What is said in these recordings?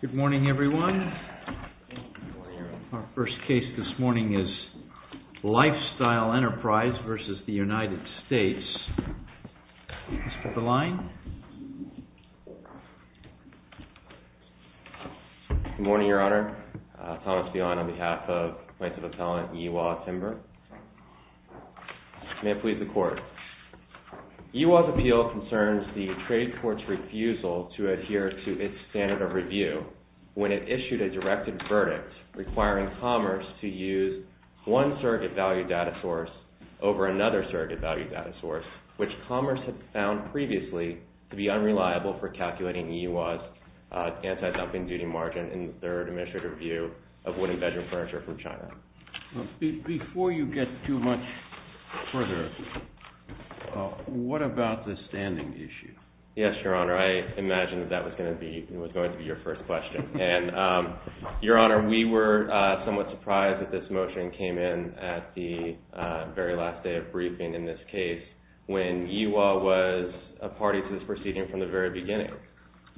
Good morning everyone. Our first case this morning is Lifestyle Enterprise v. United States. Mr. Belayne. Good morning, Your Honor. Thomas Belayne on behalf of plaintiff's appellant Iwa Timber. May it please the court. Iwa's appeal concerns the trade court's refusal to adhere to its standard of review when it issued a directed verdict requiring Commerce to use one surrogate value data source over another surrogate value data source, which Commerce had found previously to be unreliable for calculating Iwa's anti-dumping duty margin in their administrative review of wooden bedroom furniture from China. Before you get too much further, what about the standing issue? Yes, Your Honor. I imagine that was going to be your first question. Your Honor, we were somewhat surprised that this motion came in at the very last day of briefing in this case when Iwa was a party to this proceeding from the very beginning.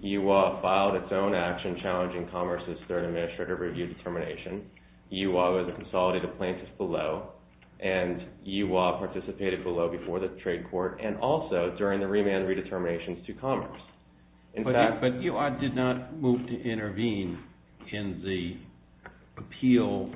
Iwa filed its own action challenging Commerce's third administrative review determination. Iwa was a consolidated plaintiff below and Iwa participated below before the trade court and also during the remand redeterminations to Commerce. But Iwa did not move to intervene in the appeal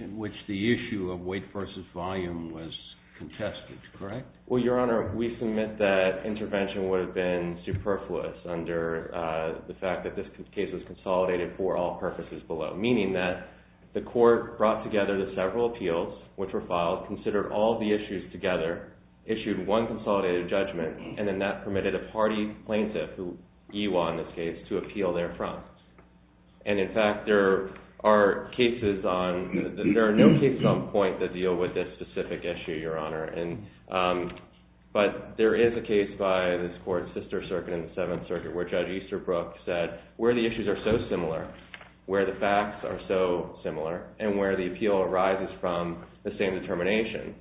in which the issue of weight versus volume was contested, correct? Well, Your Honor, we submit that intervention would have been superfluous under the fact that this case was consolidated for all purposes below, meaning that the court brought together the several appeals which were filed, considered all the issues together, issued one consolidated judgment, and then that permitted a party plaintiff, Iwa in this case, to appeal their front. And in fact, there are no cases on point that deal with this specific issue, Your Honor, but there is a case by this court's sister circuit in the Seventh Circuit where Judge Easterbrook said where the issues are so similar, where the facts are so similar, and where the appeal arises from the same determination,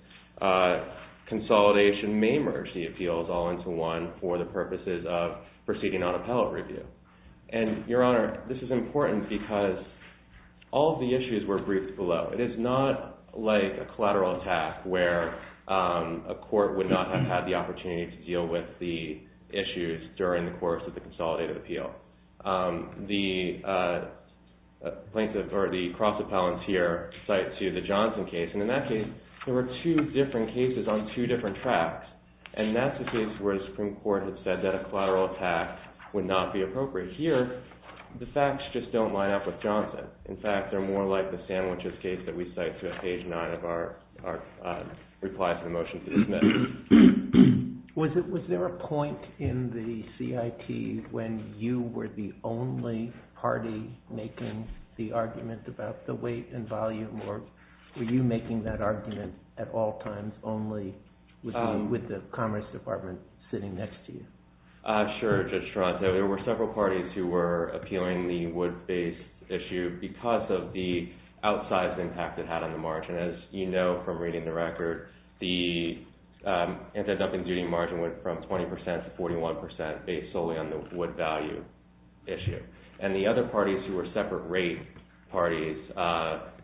consolidation may merge the appeals all into one for the purposes of proceeding on appellate review. And, Your Honor, this is important because all of the issues were briefed below. It is not like a collateral attack where a court would not have had the opportunity to deal with the issues during the course of the consolidated appeal. The plaintiff or the cross-appellant here cites here the Johnson case, and in that case, there were two different cases on two different tracks, and that's a case where the Supreme Court had said that a collateral attack would not be appropriate. Here, the facts just don't line up with Johnson. In fact, they're more like the sandwiches case that we cite through page 9 of our reply to the motion to dismiss. Was there a point in the CIT when you were the only party making the argument about the weight and volume, or were you making that argument at all times only with the Commerce Department sitting next to you? Sure, Judge Toronto. There were several parties who were appealing the wood-based issue because of the outsized impact it had on the margin. As you know from reading the record, the anti-dumping duty margin went from 20% to 41% based solely on the wood value issue. And the other parties who were separate rate parties,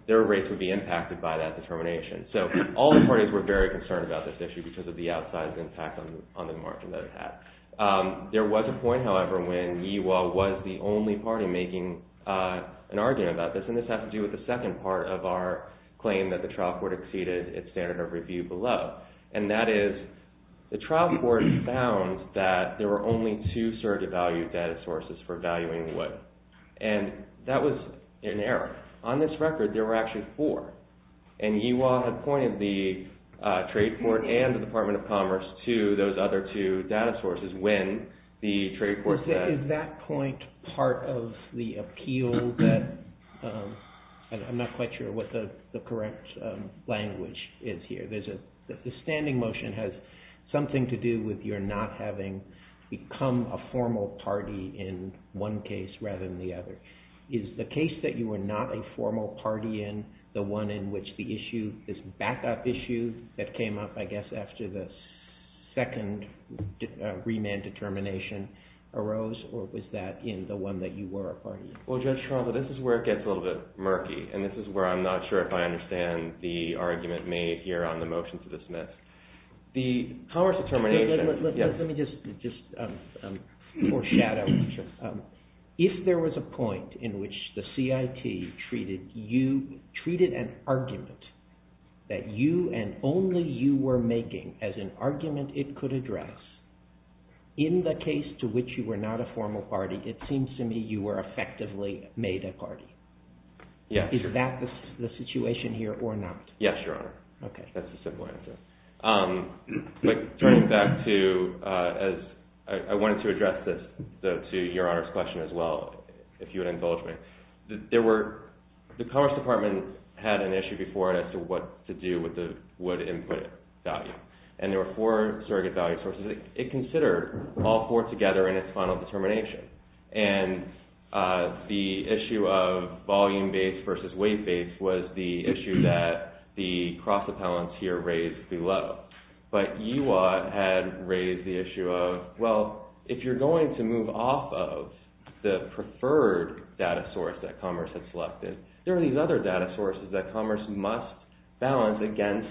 their rates would be impacted by that determination. So all the parties were very concerned about this issue because of the outsized impact on the margin that it had. There was a point, however, when Yee Wah was the only party making an argument about this, and this has to do with the second part of our claim that the trial court exceeded its standard of review below, and that is the trial court found that there were only two surrogate value data sources for valuing wood, and that was an error. On this record, there were actually four, and Yee Wah had pointed the trade court and the Department of Commerce to those other two data sources when the trade court said… Is that point part of the appeal? I'm not quite sure what the correct language is here. The standing motion has something to do with your not having become a formal party in one case rather than the other. Is the case that you were not a formal party in the one in which the issue, this backup issue that came up, I guess, after the second remand determination arose, or was that in the one that you were a party in? Well, Judge Charles, this is where it gets a little bit murky, and this is where I'm not sure if I understand the argument made here on the motion to dismiss. Let me just foreshadow. If there was a point in which the CIT treated an argument that you and only you were making as an argument it could address, in the case to which you were not a formal party, it seems to me you were effectively made a party. Is that the situation here or not? Yes, Your Honor. Okay. That's the simple answer. Turning back to, I wanted to address this to Your Honor's question as well, if you would indulge me. The Commerce Department had an issue before as to what to do with the wood input value, and there were four surrogate value sources. It considered all four together in its final determination, and the issue of volume-based versus weight-based was the issue that the cross-appellants here raised below. But EWOT had raised the issue of, well, if you're going to move off of the preferred data source that Commerce had selected, there are these other data sources that Commerce must balance against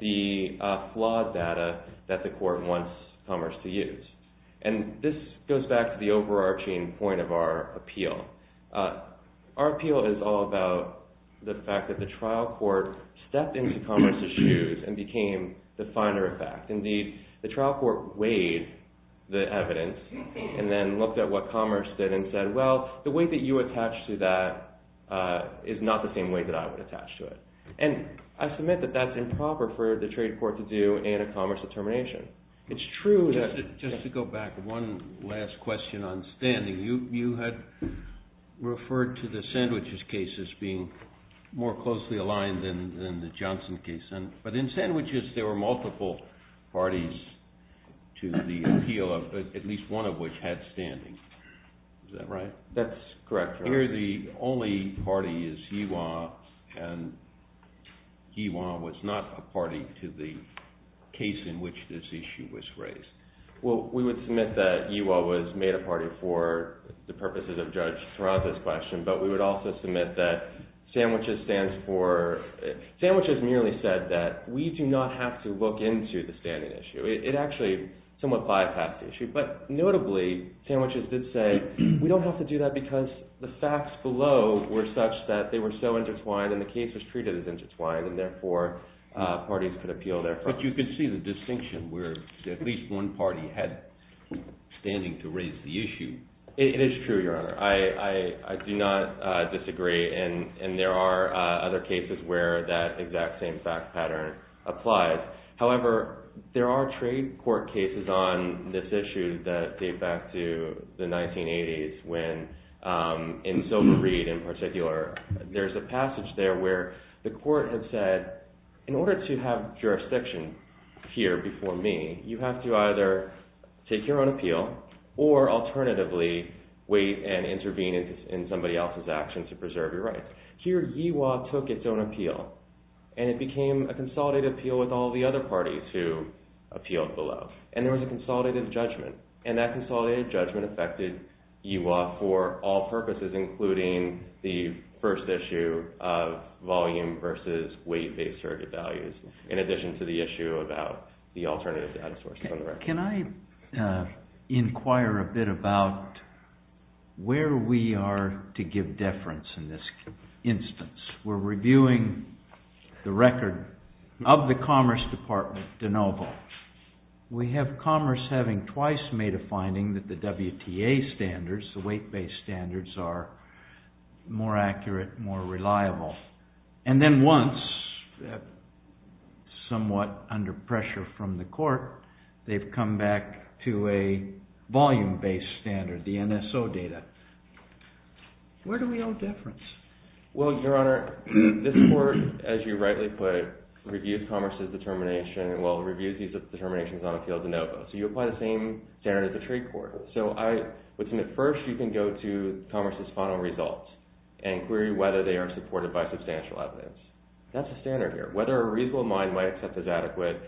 the flawed data that the court wants Commerce to use. And this goes back to the overarching point of our appeal. Our appeal is all about the fact that the trial court stepped into Commerce's shoes and became the finder of fact. Indeed, the trial court weighed the evidence and then looked at what Commerce did and said, well, the weight that you attach to that is not the same weight that I would attach to it. And I submit that that's improper for the trade court to do in a Commerce determination. It's true, just to go back, one last question on standing. You had referred to the Sandwiches case as being more closely aligned than the Johnson case. But in Sandwiches, there were multiple parties to the appeal, at least one of which had standing. Is that right? That's correct. Here, the only party is Ewha, and Ewha was not a party to the case in which this issue was raised. Well, we would submit that Ewha was made a party for the purposes of Judge Tarraza's question, but we would also submit that Sandwiches merely said that we do not have to look into the standing issue. It actually somewhat bypassed the issue. But notably, Sandwiches did say, we don't have to do that because the facts below were such that they were so intertwined and the case was treated as intertwined, and therefore, parties could appeal there. But you could see the distinction where at least one party had standing to raise the issue. It is true, Your Honor. I do not disagree, and there are other cases where that exact same fact pattern applies. However, there are trade court cases on this issue that date back to the 1980s when, in Silver Reed in particular, there's a passage there where the court has said, in order to have jurisdiction here before me, you have to either take your own appeal or alternatively wait and intervene in somebody else's actions to preserve your rights. Here, Ewha took its own appeal, and it became a consolidated appeal with all the other parties who appealed below. And there was a consolidated judgment, and that consolidated judgment affected Ewha for all purposes, including the first issue of volume versus weight-based surrogate values, in addition to the issue about the alternative data sources on the record. Can I inquire a bit about where we are to give deference in this instance? We're reviewing the record of the Commerce Department de novo. We have commerce having twice made a finding that the WTA standards, the weight-based standards, are more accurate, more reliable. And then once, somewhat under pressure from the court, they've come back to a volume-based standard, the NSO data. Where do we owe deference? Well, Your Honor, this court, as you rightly put, reviews commerce's determination, well, reviews these determinations on appeal de novo. So you apply the same standard as the trade court. Within the first, you can go to commerce's final results and query whether they are supported by substantial evidence. That's the standard here, whether a reasonable mind might accept as adequate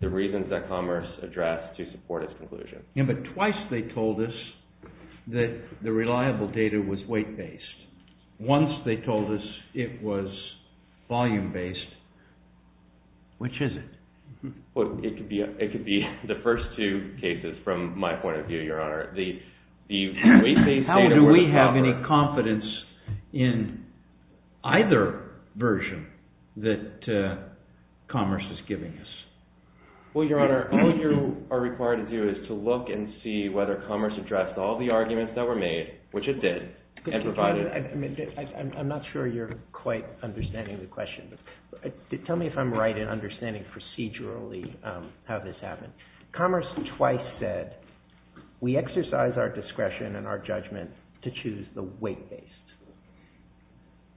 the reasons that commerce addressed to support its conclusion. Yeah, but twice they told us that the reliable data was weight-based. Once they told us it was volume-based. Which is it? Well, it could be the first two cases from my point of view, Your Honor. How do we have any confidence in either version that commerce is giving us? Well, Your Honor, all you are required to do is to look and see whether commerce addressed all the arguments that were made, which it did, and provided— I'm not sure you're quite understanding the question. Tell me if I'm right in understanding procedurally how this happened. Commerce twice said, we exercise our discretion and our judgment to choose the weight-based.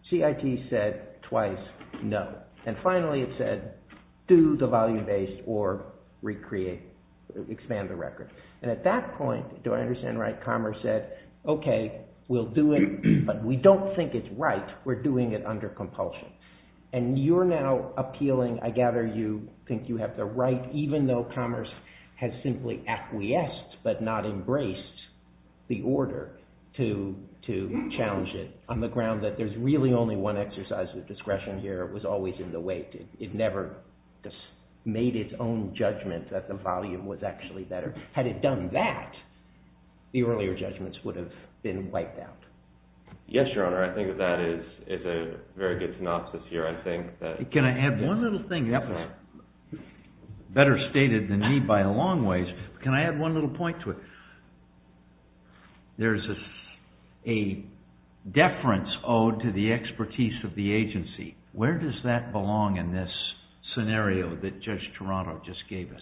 CIT said twice, no. And finally it said, do the volume-based or expand the record. And at that point, do I understand right, commerce said, okay, we'll do it, but we don't think it's right. We're doing it under compulsion. And you're now appealing, I gather you think you have the right, even though commerce has simply acquiesced but not embraced the order to challenge it, on the ground that there's really only one exercise of discretion here. It was always in the weight. It never made its own judgment that the volume was actually better. Had it done that, the earlier judgments would have been wiped out. Yes, Your Honor. I think that that is a very good synopsis here. Can I add one little thing? Better stated than me by a long ways. Can I add one little point to it? There's a deference owed to the expertise of the agency. Where does that belong in this scenario that Judge Toronto just gave us?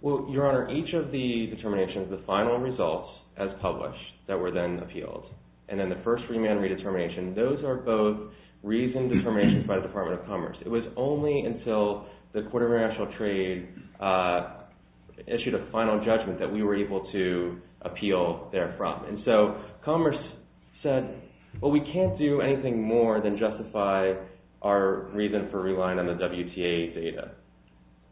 Well, Your Honor, each of the determinations, the final results as published that were then appealed, and then the first remand redetermination, those are both reasoned determinations by the Department of Commerce. It was only until the Court of International Trade issued a final judgment that we were able to appeal therefrom. And so commerce said, well, we can't do anything more than justify our reason for relying on the WTA data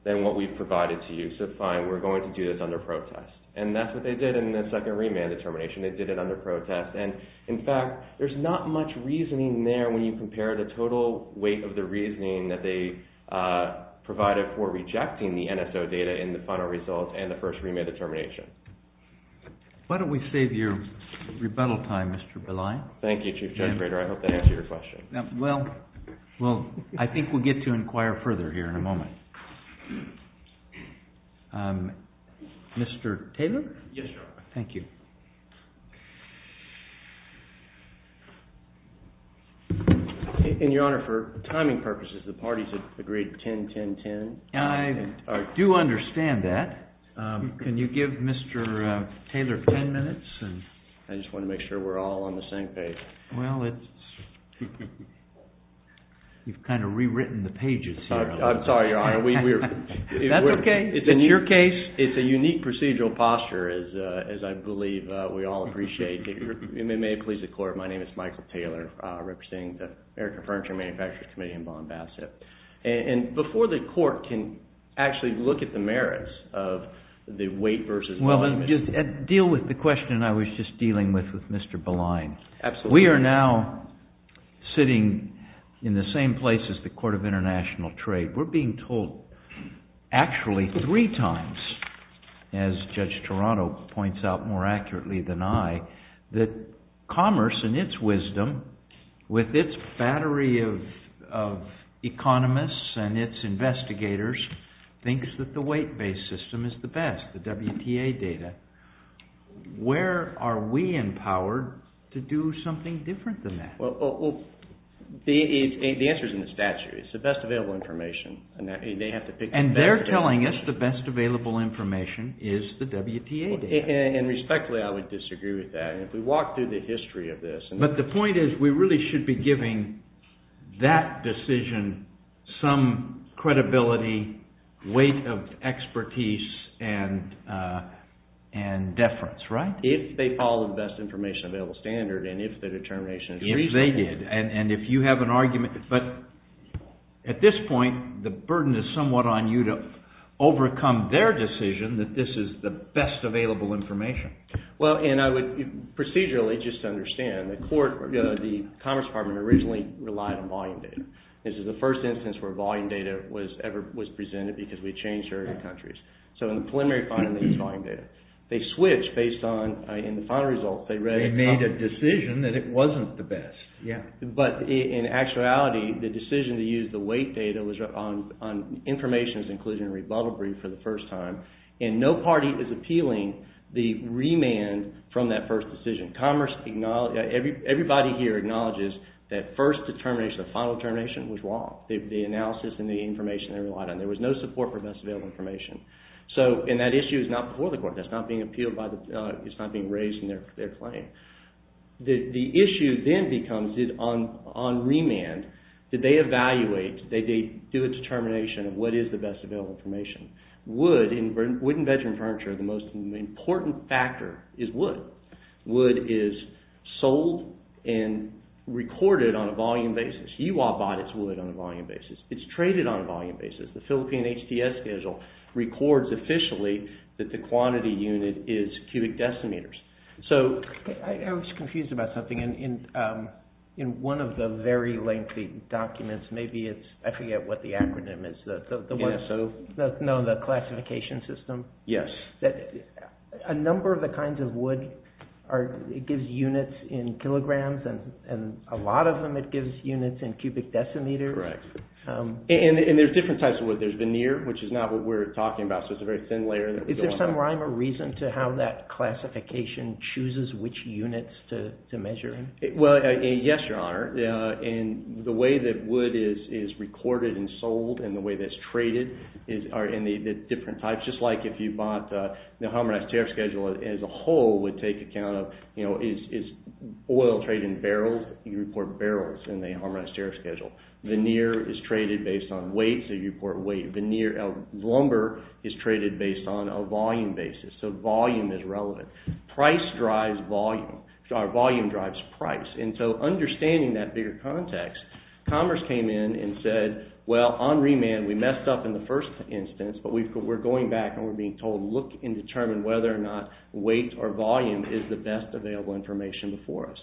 than what we've provided to you. So fine, we're going to do this under protest. And that's what they did in the second remand determination. They did it under protest. And, in fact, there's not much reasoning there when you compare the total weight of the reasoning that they provided for rejecting the NSO data in the final results and the first remand determination. Why don't we save your rebuttal time, Mr. Pillai? Thank you, Chief Judge Brader. I hope that answers your question. Well, I think we'll get to inquire further here in a moment. Mr. Taylor? Yes, Your Honor. Thank you. And, Your Honor, for timing purposes, the parties have agreed 10-10-10. I do understand that. Can you give Mr. Taylor 10 minutes? I just want to make sure we're all on the same page. Well, you've kind of rewritten the pages here. I'm sorry, Your Honor. That's okay. In your case, it's a unique procedural posture, as I believe we all appreciate. It may please the Court. My name is Michael Taylor. I'm representing the American Furniture Manufacturing Committee in Bonn-Bassette. And before the Court can actually look at the merits of the weight versus volume issue. Well, deal with the question I was just dealing with with Mr. Pillai. Absolutely. We are now sitting in the same place as the Court of International Trade. We're being told actually three times, as Judge Toronto points out more accurately than I, that commerce, in its wisdom, with its battery of economists and its investigators, thinks that the weight-based system is the best, the WTA data. Where are we empowered to do something different than that? The answer is in the statute. It's the best available information. And they're telling us the best available information is the WTA data. And respectfully, I would disagree with that. If we walk through the history of this. But the point is we really should be giving that decision some credibility, weight of expertise, and deference, right? If they follow the best information available standard and if the determination is reasonable. If they did. And if you have an argument. But at this point, the burden is somewhat on you to overcome their decision that this is the best available information. Well, and I would procedurally just understand. The Commerce Department originally relied on volume data. This is the first instance where volume data was presented because we changed our countries. So in the preliminary finding, it was volume data. They switched based on in the final result. They made a decision that it wasn't the best. But in actuality, the decision to use the weight data was on information's inclusion and rebuttal brief for the first time. And no party is appealing the remand from that first decision. Everybody here acknowledges that first determination, the final determination was wrong. The analysis and the information they relied on. There was no support for best available information. So, and that issue is not before the court. That's not being appealed by the, it's not being raised in their claim. The issue then becomes on remand. Did they evaluate? Did they do a determination of what is the best available information? Wood and bedroom furniture, the most important factor is wood. Wood is sold and recorded on a volume basis. E.Y. bought its wood on a volume basis. It's traded on a volume basis. The Philippine HTS schedule records officially that the quantity unit is cubic decimeters. So. I was confused about something. In one of the very lengthy documents, maybe it's, I forget what the acronym is, the one. ESO. No, the classification system. Yes. A number of the kinds of wood are, it gives units in kilograms. And a lot of them it gives units in cubic decimeters. Correct. And there's different types of wood. There's veneer, which is not what we're talking about. So it's a very thin layer. Is there some rhyme or reason to how that classification chooses which units to measure in? Well, yes, your honor. And the way that wood is recorded and sold and the way that it's traded are in the different types. Just like if you bought the harmonized tariff schedule as a whole would take account of, you know, is oil trade in barrels? You report barrels in the harmonized tariff schedule. Veneer is traded based on weight. So you report weight. Veneer, lumber is traded based on a volume basis. So volume is relevant. Price drives volume. Our volume drives price. And so understanding that bigger context, Commerce came in and said, well, on remand we messed up in the first instance, but we're going back and we're being told look and determine whether or not weight or volume is the best available information for us.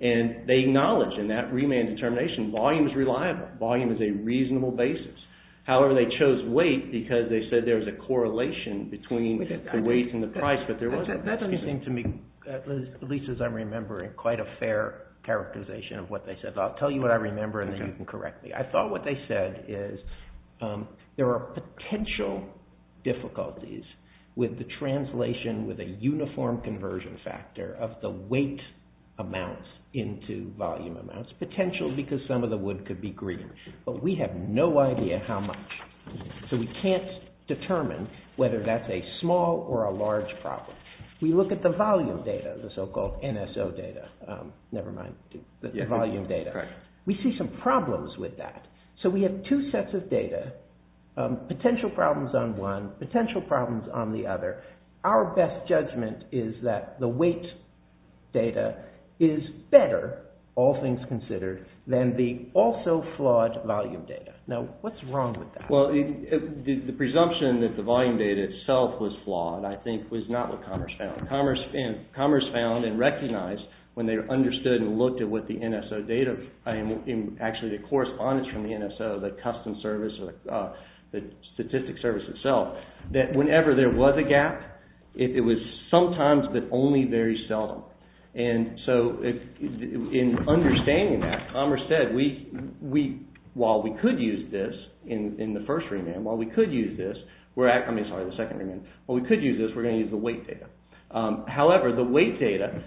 And they acknowledge in that remand determination volume is reliable. Volume is a reasonable basis. However, they chose weight because they said there was a correlation between the weight and the price, but there wasn't. That doesn't seem to me, at least as I remember, quite a fair characterization of what they said. I'll tell you what I remember and then you can correct me. I thought what they said is there are potential difficulties with the translation with a uniform conversion factor of the weight amounts into volume amounts, potential because some of the wood could be green. But we have no idea how much. So we can't determine whether that's a small or a large problem. We look at the volume data, the so-called NSO data. Never mind the volume data. We see some problems with that. So we have two sets of data, potential problems on one, potential problems on the other. Our best judgment is that the weight data is better, all things considered, than the also flawed volume data. Now, what's wrong with that? Well, the presumption that the volume data itself was flawed I think was not what Commerce found. Commerce found and recognized when they understood and looked at what the NSO data, actually the correspondence from the NSO, the custom service, the statistics service itself, that whenever there was a gap, it was sometimes but only very seldom. And so in understanding that, Commerce said, while we could use this in the first remand, while we could use this, we're going to use the weight data. However, the weight data,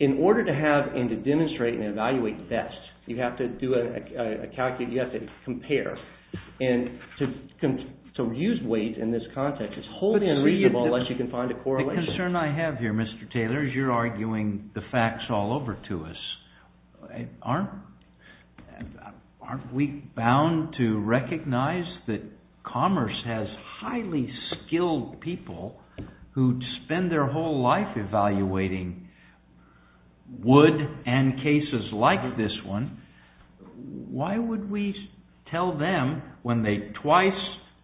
in order to have and to demonstrate and evaluate best, you have to do a, you have to compare. And to use weight in this context is wholly unreasonable unless you can find a correlation. The concern I have here, Mr. Taylor, is you're arguing the facts all over to us. Aren't we bound to recognize that Commerce has highly skilled people who spend their whole life evaluating wood and cases like this one? Why would we tell them when they twice,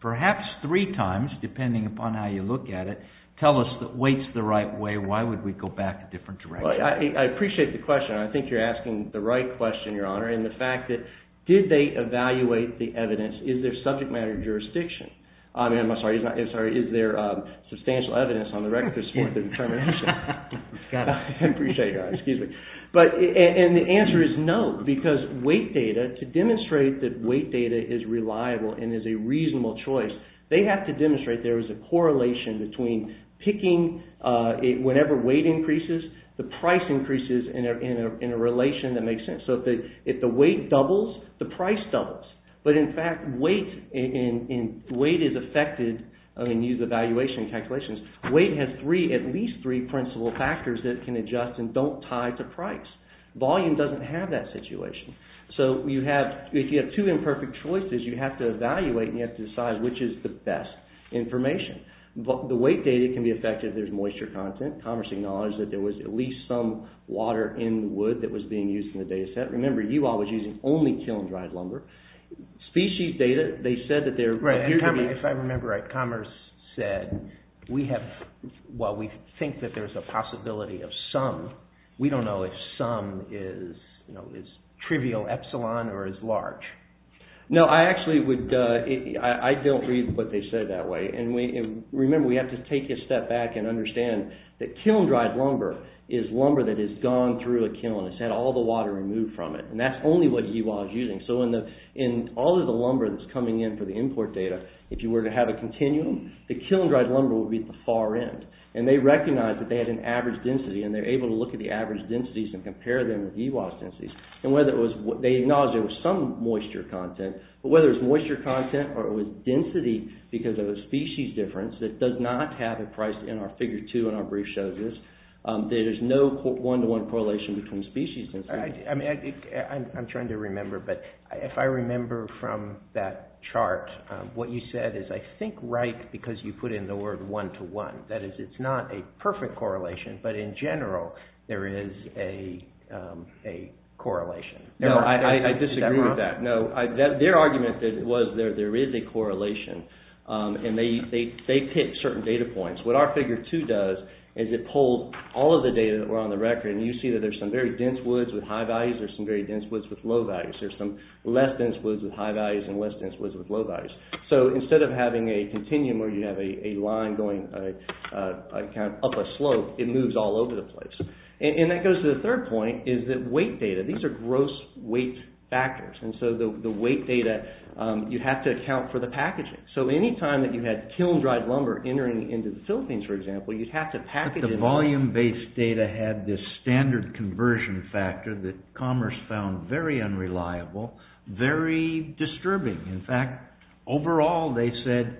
perhaps three times, depending upon how you look at it, tell us that weight's the right way, why would we go back a different direction? Well, I appreciate the question. I think you're asking the right question, Your Honor. And the fact that, did they evaluate the evidence? Is there subject matter jurisdiction? I'm sorry, is there substantial evidence on the record to support the determination? I appreciate it, Your Honor. Excuse me. And the answer is no, because weight data, to demonstrate that weight data is reliable and is a reasonable choice, they have to demonstrate there is a correlation between picking, whenever weight increases, the price increases in a relation that makes sense. So, if the weight doubles, the price doubles. But, in fact, weight is affected, I mean, use the valuation calculations, weight has three, at least three principal factors that can adjust and don't tie to price. Volume doesn't have that situation. So, if you have two imperfect choices, you have to evaluate and you have to decide which is the best information. The weight data can be affected if there's moisture content. Commerce acknowledged that there was at least some water in wood that was being used in the data set. Remember, UL was using only kiln-dried lumber. Species data, they said that there... Right, and if I remember right, Commerce said, while we think that there's a possibility of some, we don't know if some is trivial epsilon or is large. No, I actually would, I don't read what they said that way. Remember, we have to take a step back and understand that kiln-dried lumber is lumber that has gone through a kiln. It's had all the water removed from it. And that's only what EWAS is using. So, in all of the lumber that's coming in for the import data, if you were to have a continuum, the kiln-dried lumber would be at the far end. And they recognized that they had an average density and they're able to look at the average densities and compare them with EWAS densities. They acknowledged there was some moisture content, but whether it's moisture content or it was density because of a species difference that does not have a price in our Figure 2 and our brief shows this, there's no one-to-one correlation between species. I'm trying to remember, but if I remember from that chart, what you said is, I think, right because you put in the word one-to-one. That is, it's not a perfect correlation, but in general, there is a correlation. No, I disagree with that. Their argument was there is a correlation. And they picked certain data points. What our Figure 2 does is it pulled all of the data that were on the record and you see that there's some very dense woods with high values, there's some very dense woods with low values. There's some less dense woods with high values and less dense woods with low values. So, instead of having a continuum where you have a line going up a slope, it moves all over the place. And that goes to the third point, is that weight data, these are gross weight factors. And so, the weight data, you have to account for the packaging. So, any time that you had kiln-dried lumber entering into the Philippines, for example, you'd have to package it up. But the volume-based data had this standard conversion factor that Commerce found very unreliable, very disturbing. In fact, overall, they said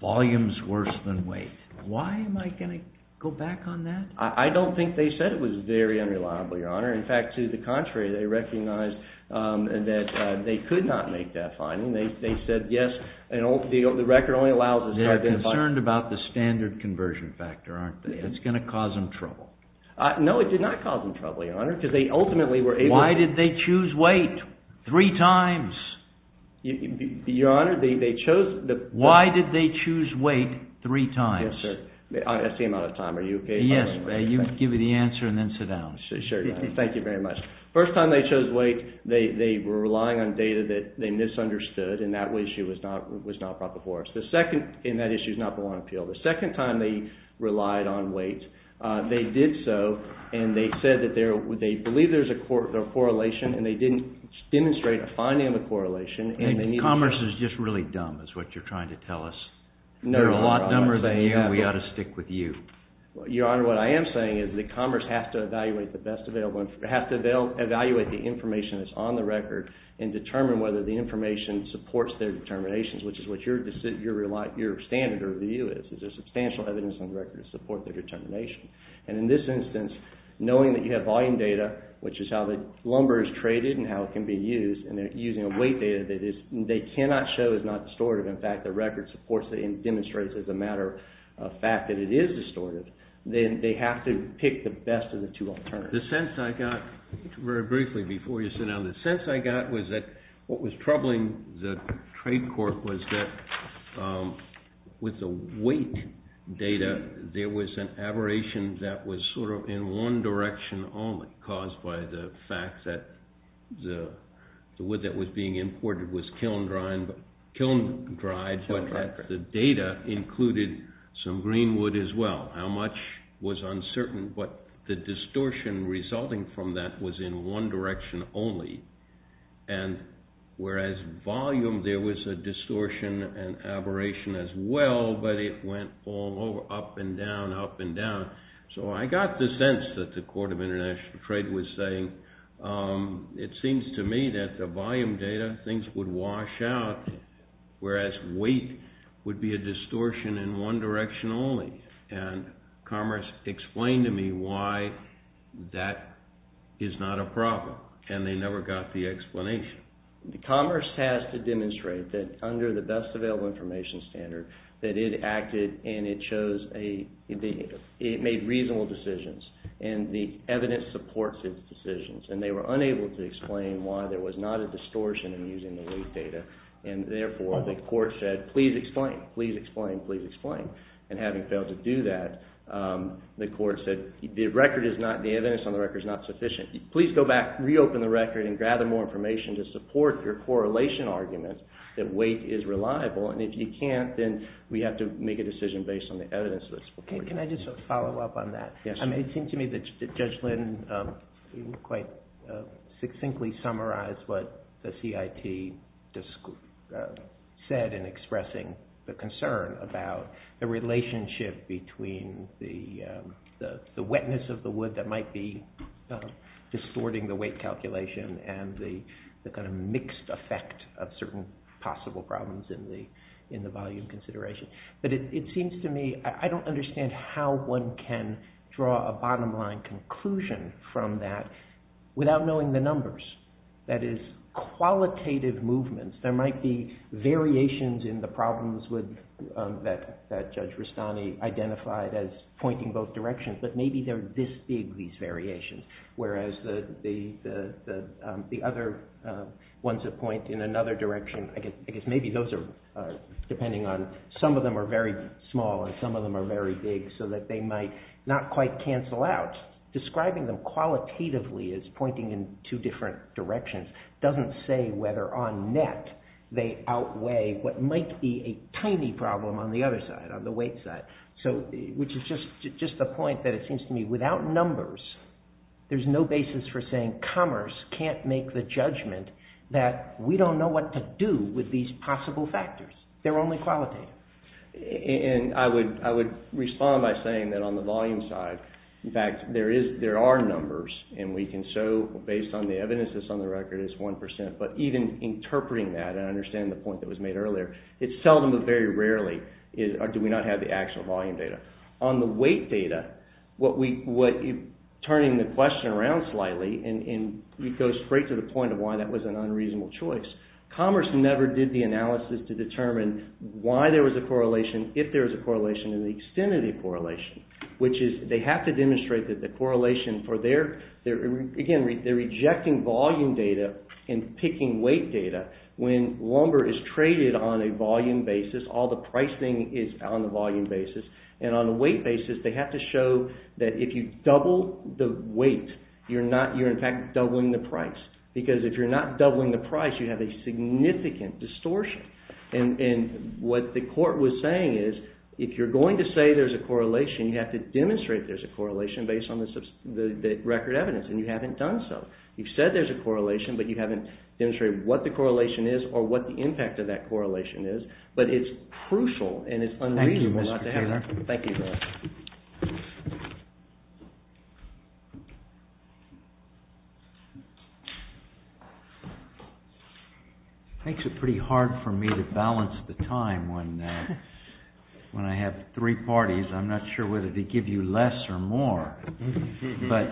volume's worse than weight. Why am I going to go back on that? I don't think they said it was very unreliable, Your Honor. In fact, to the contrary, they recognized that they could not make that finding. They said, yes, the record only allows us to identify- They're concerned about the standard conversion factor, aren't they? It's going to cause them trouble. No, it did not cause them trouble, Your Honor, because they ultimately were able to- Why did they choose weight three times? Your Honor, they chose- Why did they choose weight three times? That's the amount of time. Are you okay if I- Yes, you can give me the answer and then sit down. Sure, Your Honor. Thank you very much. First time they chose weight, they were relying on data that they misunderstood, and that issue was not brought before us. The second- and that issue's not the one on appeal. The second time they relied on weight, they did so, and they said that they believe there's a correlation, and they didn't demonstrate a finding of a correlation. Commerce is just really dumb, is what you're trying to tell us. They're a lot dumber than you, and we ought to stick with you. Your Honor, what I am saying is that Commerce has to evaluate the best available- has to evaluate the information that's on the record and determine whether the information supports their determinations, which is what your standard of view is. Is there substantial evidence on the record to support their determination? And in this instance, knowing that you have volume data, which is how the lumber is traded and how it can be used, and they're using a weight data that they cannot show is not distorted. In fact, their record supports it and demonstrates, as a matter of fact, that it is distorted. Then they have to pick the best of the two alternatives. The sense I got, very briefly before you sit down, the sense I got was that what was troubling the trade court was that with the weight data, there was an aberration that was sort of in one direction only, caused by the fact that the wood that was being imported was kiln-dried, but the data included some green wood as well. How much was uncertain, but the distortion resulting from that was in one direction only. And whereas volume, there was a distortion and aberration as well, but it went all over, up and down, up and down. So I got the sense that the Court of International Trade was saying, it seems to me that the volume data, things would wash out, whereas weight would be a distortion in one direction only. And Commerce explained to me why that is not a problem, and they never got the explanation. Commerce has to demonstrate that under the best available information standard, that it acted and it made reasonable decisions, and the evidence supports its decisions. And they were unable to explain why there was not a distortion in using the weight data. And therefore, the court said, please explain, please explain, please explain. And having failed to do that, the court said, the evidence on the record is not sufficient. Please go back, reopen the record, and gather more information to support your correlation argument that weight is reliable, and if you can't, then we have to make a decision based on the evidence. Can I just follow up on that? It seems to me that Judge Lynn quite succinctly summarized what the CIT said in expressing the concern about the relationship between the wetness of the wood that might be distorting the weight calculation and the kind of mixed effect of certain possible problems in the volume consideration. But it seems to me, I don't understand how one can draw a bottom line conclusion from that without knowing the numbers. That is, qualitative movements. There might be variations in the problems that Judge Rustani identified as pointing both directions, but maybe they're this big, these variations, whereas the other ones that point in another direction, I guess maybe those are depending on, some of them are very small and some of them are very big so that they might not quite cancel out. Describing them qualitatively as pointing in two different directions doesn't say whether on net they outweigh what might be a tiny problem on the other side, on the weight side, which is just a point that it seems to me without numbers, there's no basis for saying commerce can't make the judgment that we don't know what to do with these possible factors. They're only qualitative. And I would respond by saying that on the volume side, in fact, there are numbers and we can show based on the evidence that's on the record, it's 1%, but even interpreting that and understanding the point that was made earlier, it's seldom, but very rarely, do we not have the actual volume data. On the weight data, turning the question around slightly and it goes straight to the point of why that was an unreasonable choice. Commerce never did the analysis to determine why there was a correlation, if there was a correlation, and the extent of the correlation, which is they have to demonstrate that the correlation for their, again, they're rejecting volume data and picking weight data when lumber is traded on a volume basis, all the pricing is on the volume basis, and on the weight basis, they have to show that if you double the weight, you're in fact doubling the price. Because if you're not doubling the price, you have a significant distortion. And what the court was saying is, if you're going to say there's a correlation, you have to demonstrate there's a correlation based on the record evidence, and you haven't done so. You've said there's a correlation, but you haven't demonstrated what the correlation is or what the impact of that correlation is, but it's crucial and it's unreasonable not to have that. Thank you. It makes it pretty hard for me to balance the time when I have three parties. I'm not sure whether to give you less or more, but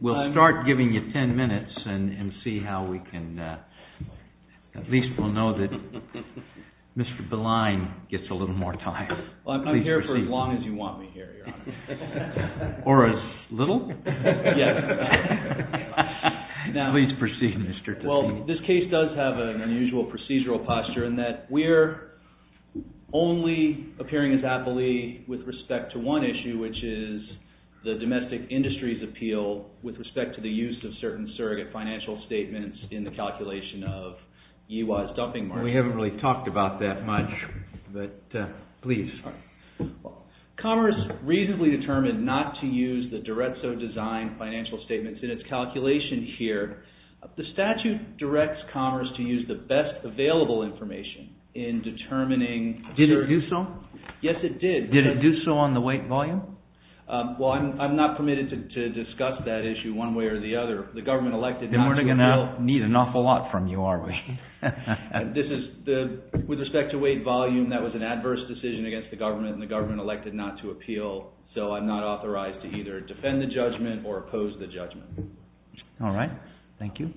we'll start giving you ten minutes and see how we can, at least we'll know that Mr. Beline gets a little more time. I'm here for as long as you want me here, Your Honor. Or as little? Please proceed, Mr. Tilley. Well, this case does have an unusual procedural posture in that we're only appearing as appellee with respect to one issue, which is the domestic industry's appeal with respect to the use of certain surrogate financial statements in the calculation of YIWA's dumping market. We haven't really talked about that much, but please. Commerce reasonably determined not to use the Diretso design financial statements in its calculation here. The statute directs Commerce to use the best available information in determining... Did it do so? Yes, it did. Did it do so on the weight and volume? Well, I'm not permitted to discuss that issue one way or the other. The government elected not to appeal. Then we're not going to need an awful lot from you, are we? This is, with respect to weight and volume, that was an adverse decision against the government and the government elected not to appeal, so I'm not authorized to either defend the judgment or oppose the judgment. All right. Thank you.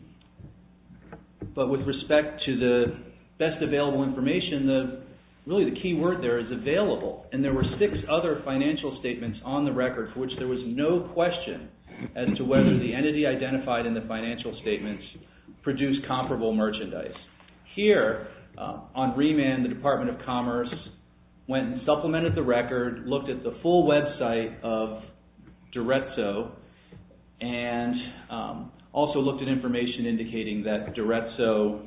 But with respect to the best available information, really the key word there is available, and there were six other financial statements on the record for which there was no question as to whether the entity identified in the financial statements produced comparable merchandise. Here, on remand, the Department of Commerce went and supplemented the record, looked at the full website of Diretso, and also looked at information indicating that Diretso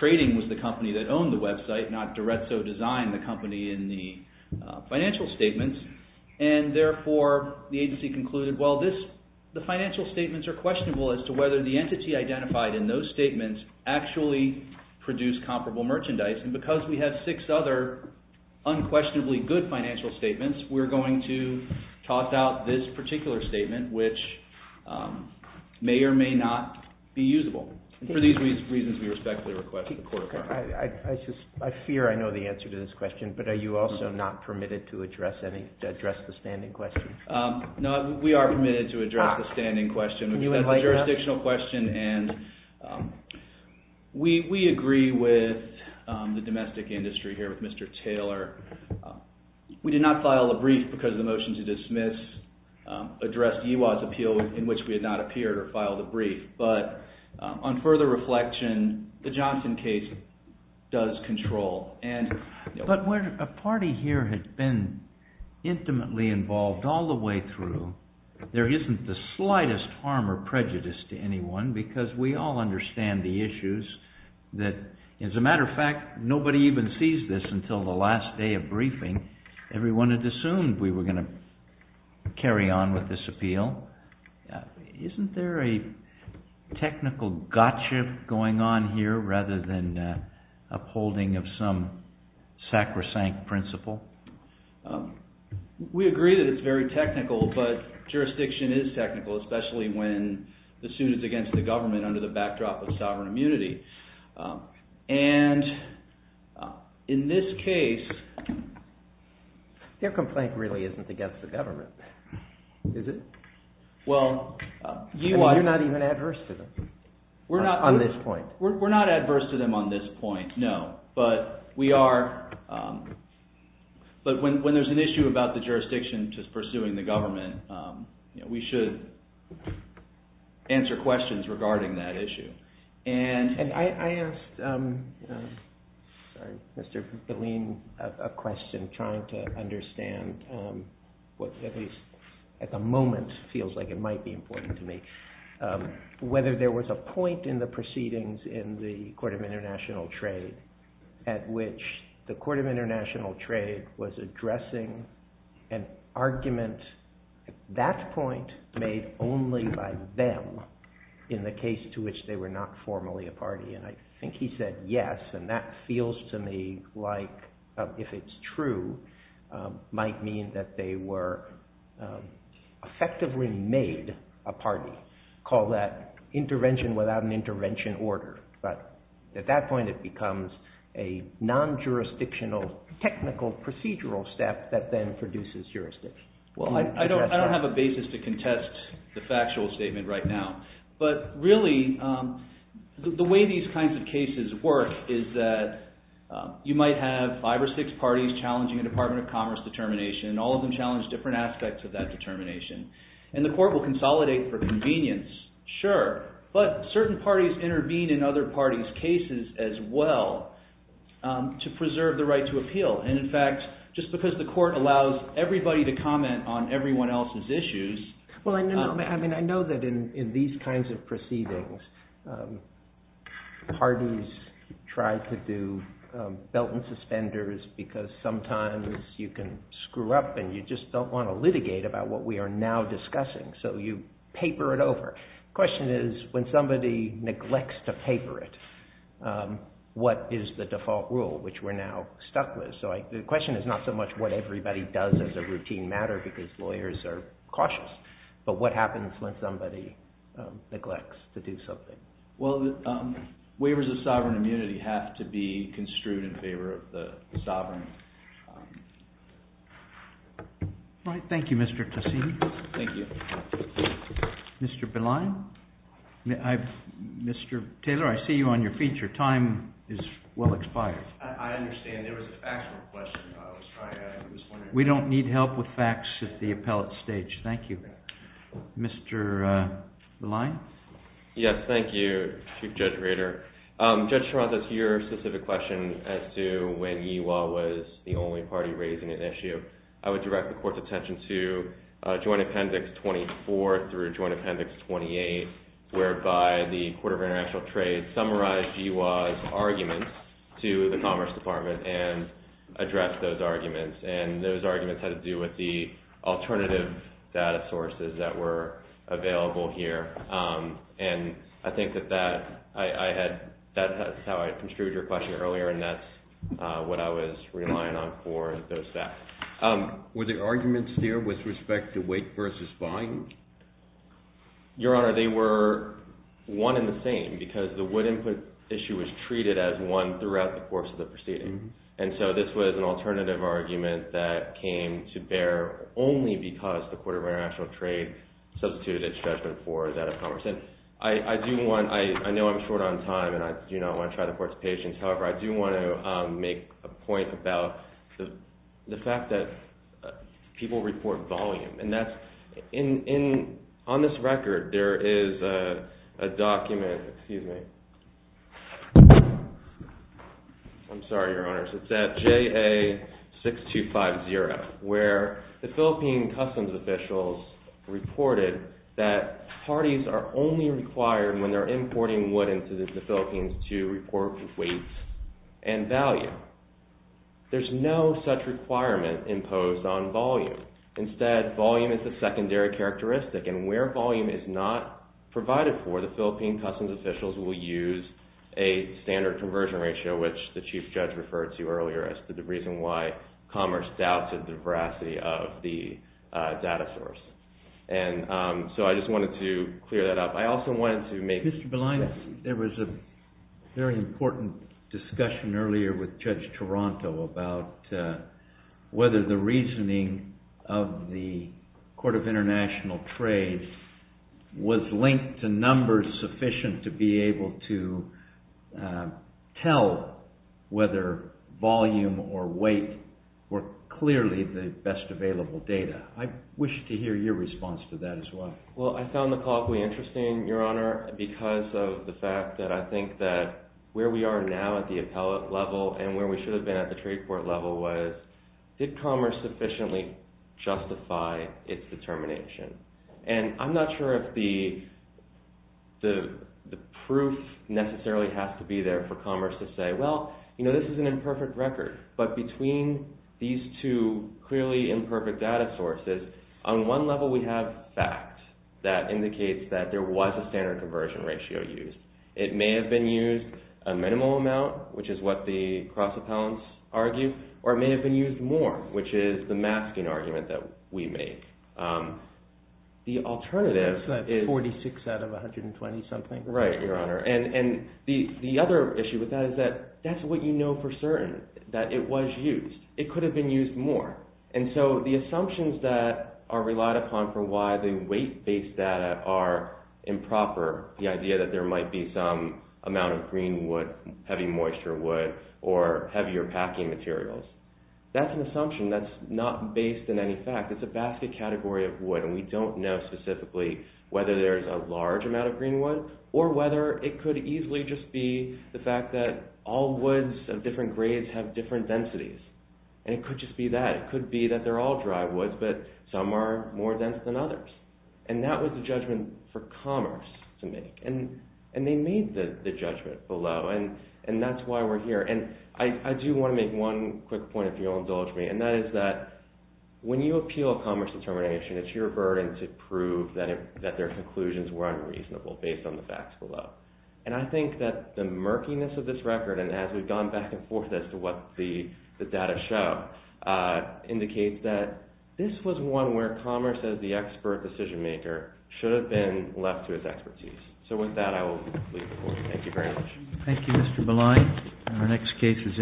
Trading was the company that owned the website, not Diretso Design, the company in the financial statements, and therefore the agency concluded, well, the financial statements are questionable as to whether the entity identified in those statements actually produced comparable merchandise, and because we have six other unquestionably good financial statements, we're going to talk about this particular statement, which may or may not be usable. For these reasons, we respectfully request that the Court approve. I fear I know the answer to this question, but are you also not permitted to address the standing question? No, we are permitted to address the standing question, which is a jurisdictional question, and we agree with the domestic industry here, with Mr. Taylor. We did not file a brief because the motion to dismiss addressed EWOT's appeal in which we had not appeared or filed a brief, but on further reflection, the Johnson case does control. But when a party here has been intimately involved all the way through, there isn't the slightest harm or prejudice to anyone because we all understand the issues that, as a matter of fact, nobody even sees this until the last day of briefing. Everyone had assumed we were going to carry on with this appeal. Isn't there a technical gotcha going on here rather than upholding of some sacrosanct principle? We agree that it's very technical, but jurisdiction is technical, especially when the suit is against the government under the backdrop of sovereign immunity. And in this case... Their complaint really isn't against the government, is it? Well, EWOT... You're not even adverse to them on this point. We're not adverse to them on this point, no. But we are... But when there's an issue about the jurisdiction just pursuing the government, we should answer questions regarding that issue. And I asked... Sorry, Mr. Bilene, a question trying to understand what at least at the moment feels like it might be important to me. Whether there was a point in the proceedings in the Court of International Trade at which the Court of International Trade was addressing an argument at that point made only by them in the case to which they were not formally a party. And I think he said yes, and that feels to me like, if it's true, might mean that they were effectively made a party. Call that intervention without an intervention order. But at that point, it becomes a non-jurisdictional, technical, procedural step that then produces jurisdiction. Well, I don't have a basis to contest the factual statement right now. But really, the way these kinds of cases work is that you might have five or six parties challenging a Department of Commerce determination, and all of them challenge different aspects of that determination. And the court will consolidate for convenience, sure. But certain parties intervene in other parties' cases as well to preserve the right to appeal. And in fact, just because the court allows everybody to comment on everyone else's issues... Well, I mean, I know that in these kinds of proceedings, parties try to do belt and suspenders because sometimes you can screw up and you just don't want to litigate about what we are now discussing. So you paper it over. The question is, when somebody neglects to paper it, what is the default rule, which we're now stuck with? So the question is not so much what everybody does as a routine matter because lawyers are cautious, but what happens when somebody neglects to do something. Well, waivers of sovereign immunity have to be construed in favor of the sovereign. All right, thank you, Mr. Cassini. Thank you. Mr. Belayon? Mr. Taylor, I see you on your feet. Your time is well expired. I understand. There was a factual question I was trying to ask. We don't need help with facts at the appellate stage. Thank you. Mr. Belayon? Yes, thank you, Chief Judge Rader. Judge Toronto, to your specific question as to when GWA was the only party raising an issue, I would direct the Court's attention to Joint Appendix 24 through Joint Appendix 28 whereby the Court of International Trade summarized GWA's arguments to the Commerce Department and addressed those arguments and those arguments had to do with the alternative data sources that were available here. And I think that that's how I construed your question earlier and that's what I was relying on for those facts. Were the arguments there with respect to weight versus volume? Your Honor, they were one and the same because the wood input issue was treated as one throughout the course of the proceeding. And so this was an alternative argument that came to bear only because the Court of International Trade substituted its judgment for that of Commerce. I do want, I know I'm short on time and I do not want to try the Court's patience. However, I do want to make a point about the fact that people report volume and that's, on this record there is a document, excuse me, I'm sorry, Your Honors, it's at JA6250 where the Philippine customs officials reported that parties are only required when they're importing wood into the Philippines to report weight and value. There's no such requirement imposed on volume. Instead, volume is a secondary characteristic and where volume is not provided for, the Philippine customs officials will use a standard conversion ratio, which the Chief Judge referred to earlier as the reason why Commerce doubted the veracity of the data source. And so I just wanted to clear that up. I also wanted to make... Mr. Bilainis, there was a very important discussion earlier with Judge Taranto about whether the reasoning of the Court of International Trade was linked to numbers sufficient to be able to tell whether volume or weight were clearly the best available data. I wish to hear your response to that as well. Well, I found the call quite interesting, Your Honor, because of the fact that I think that where we are now at the appellate level and where we should have been at the trade court level was did Commerce sufficiently justify its determination? And I'm not sure if the proof necessarily has to be there for Commerce to say, well, you know, this is an imperfect record. But between these two clearly imperfect data sources, on one level we have fact that indicates that there was a standard conversion ratio used. It may have been used a minimal amount, which is what the cross appellants argue, or it may have been used more, which is the masking argument that we make. The alternative is... It's like 46 out of 120-something. Right, Your Honor. And the other issue with that is that that's what you know for certain, that it was used. It could have been used more. And so the assumptions that are relied upon for why the weight-based data are improper, the idea that there might be some amount of green wood, heavy moisture wood, or heavier packing materials, that's an assumption that's not based on any fact. It's a basket category of wood, and we don't know specifically whether there's a large amount of green wood or whether it could easily just be the fact that all woods of different grades have different densities. And it could just be that. It could be that they're all dry woods, but some are more dense than others. And that was the judgment for Commerce to make. And they made the judgment below, and that's why we're here. And I do want to make one quick point, if you'll indulge me, and that is that when you appeal a Commerce determination, it's your burden to prove that their conclusions were unreasonable based on the facts below. And I think that the murkiness of this record, and as we've gone back and forth as to what the data show, indicates that this was one where Commerce, as the expert decision-maker, should have been left to its expertise. So with that, I will leave the floor. Thank you very much. Thank you, Mr. Belay. Our next case is in.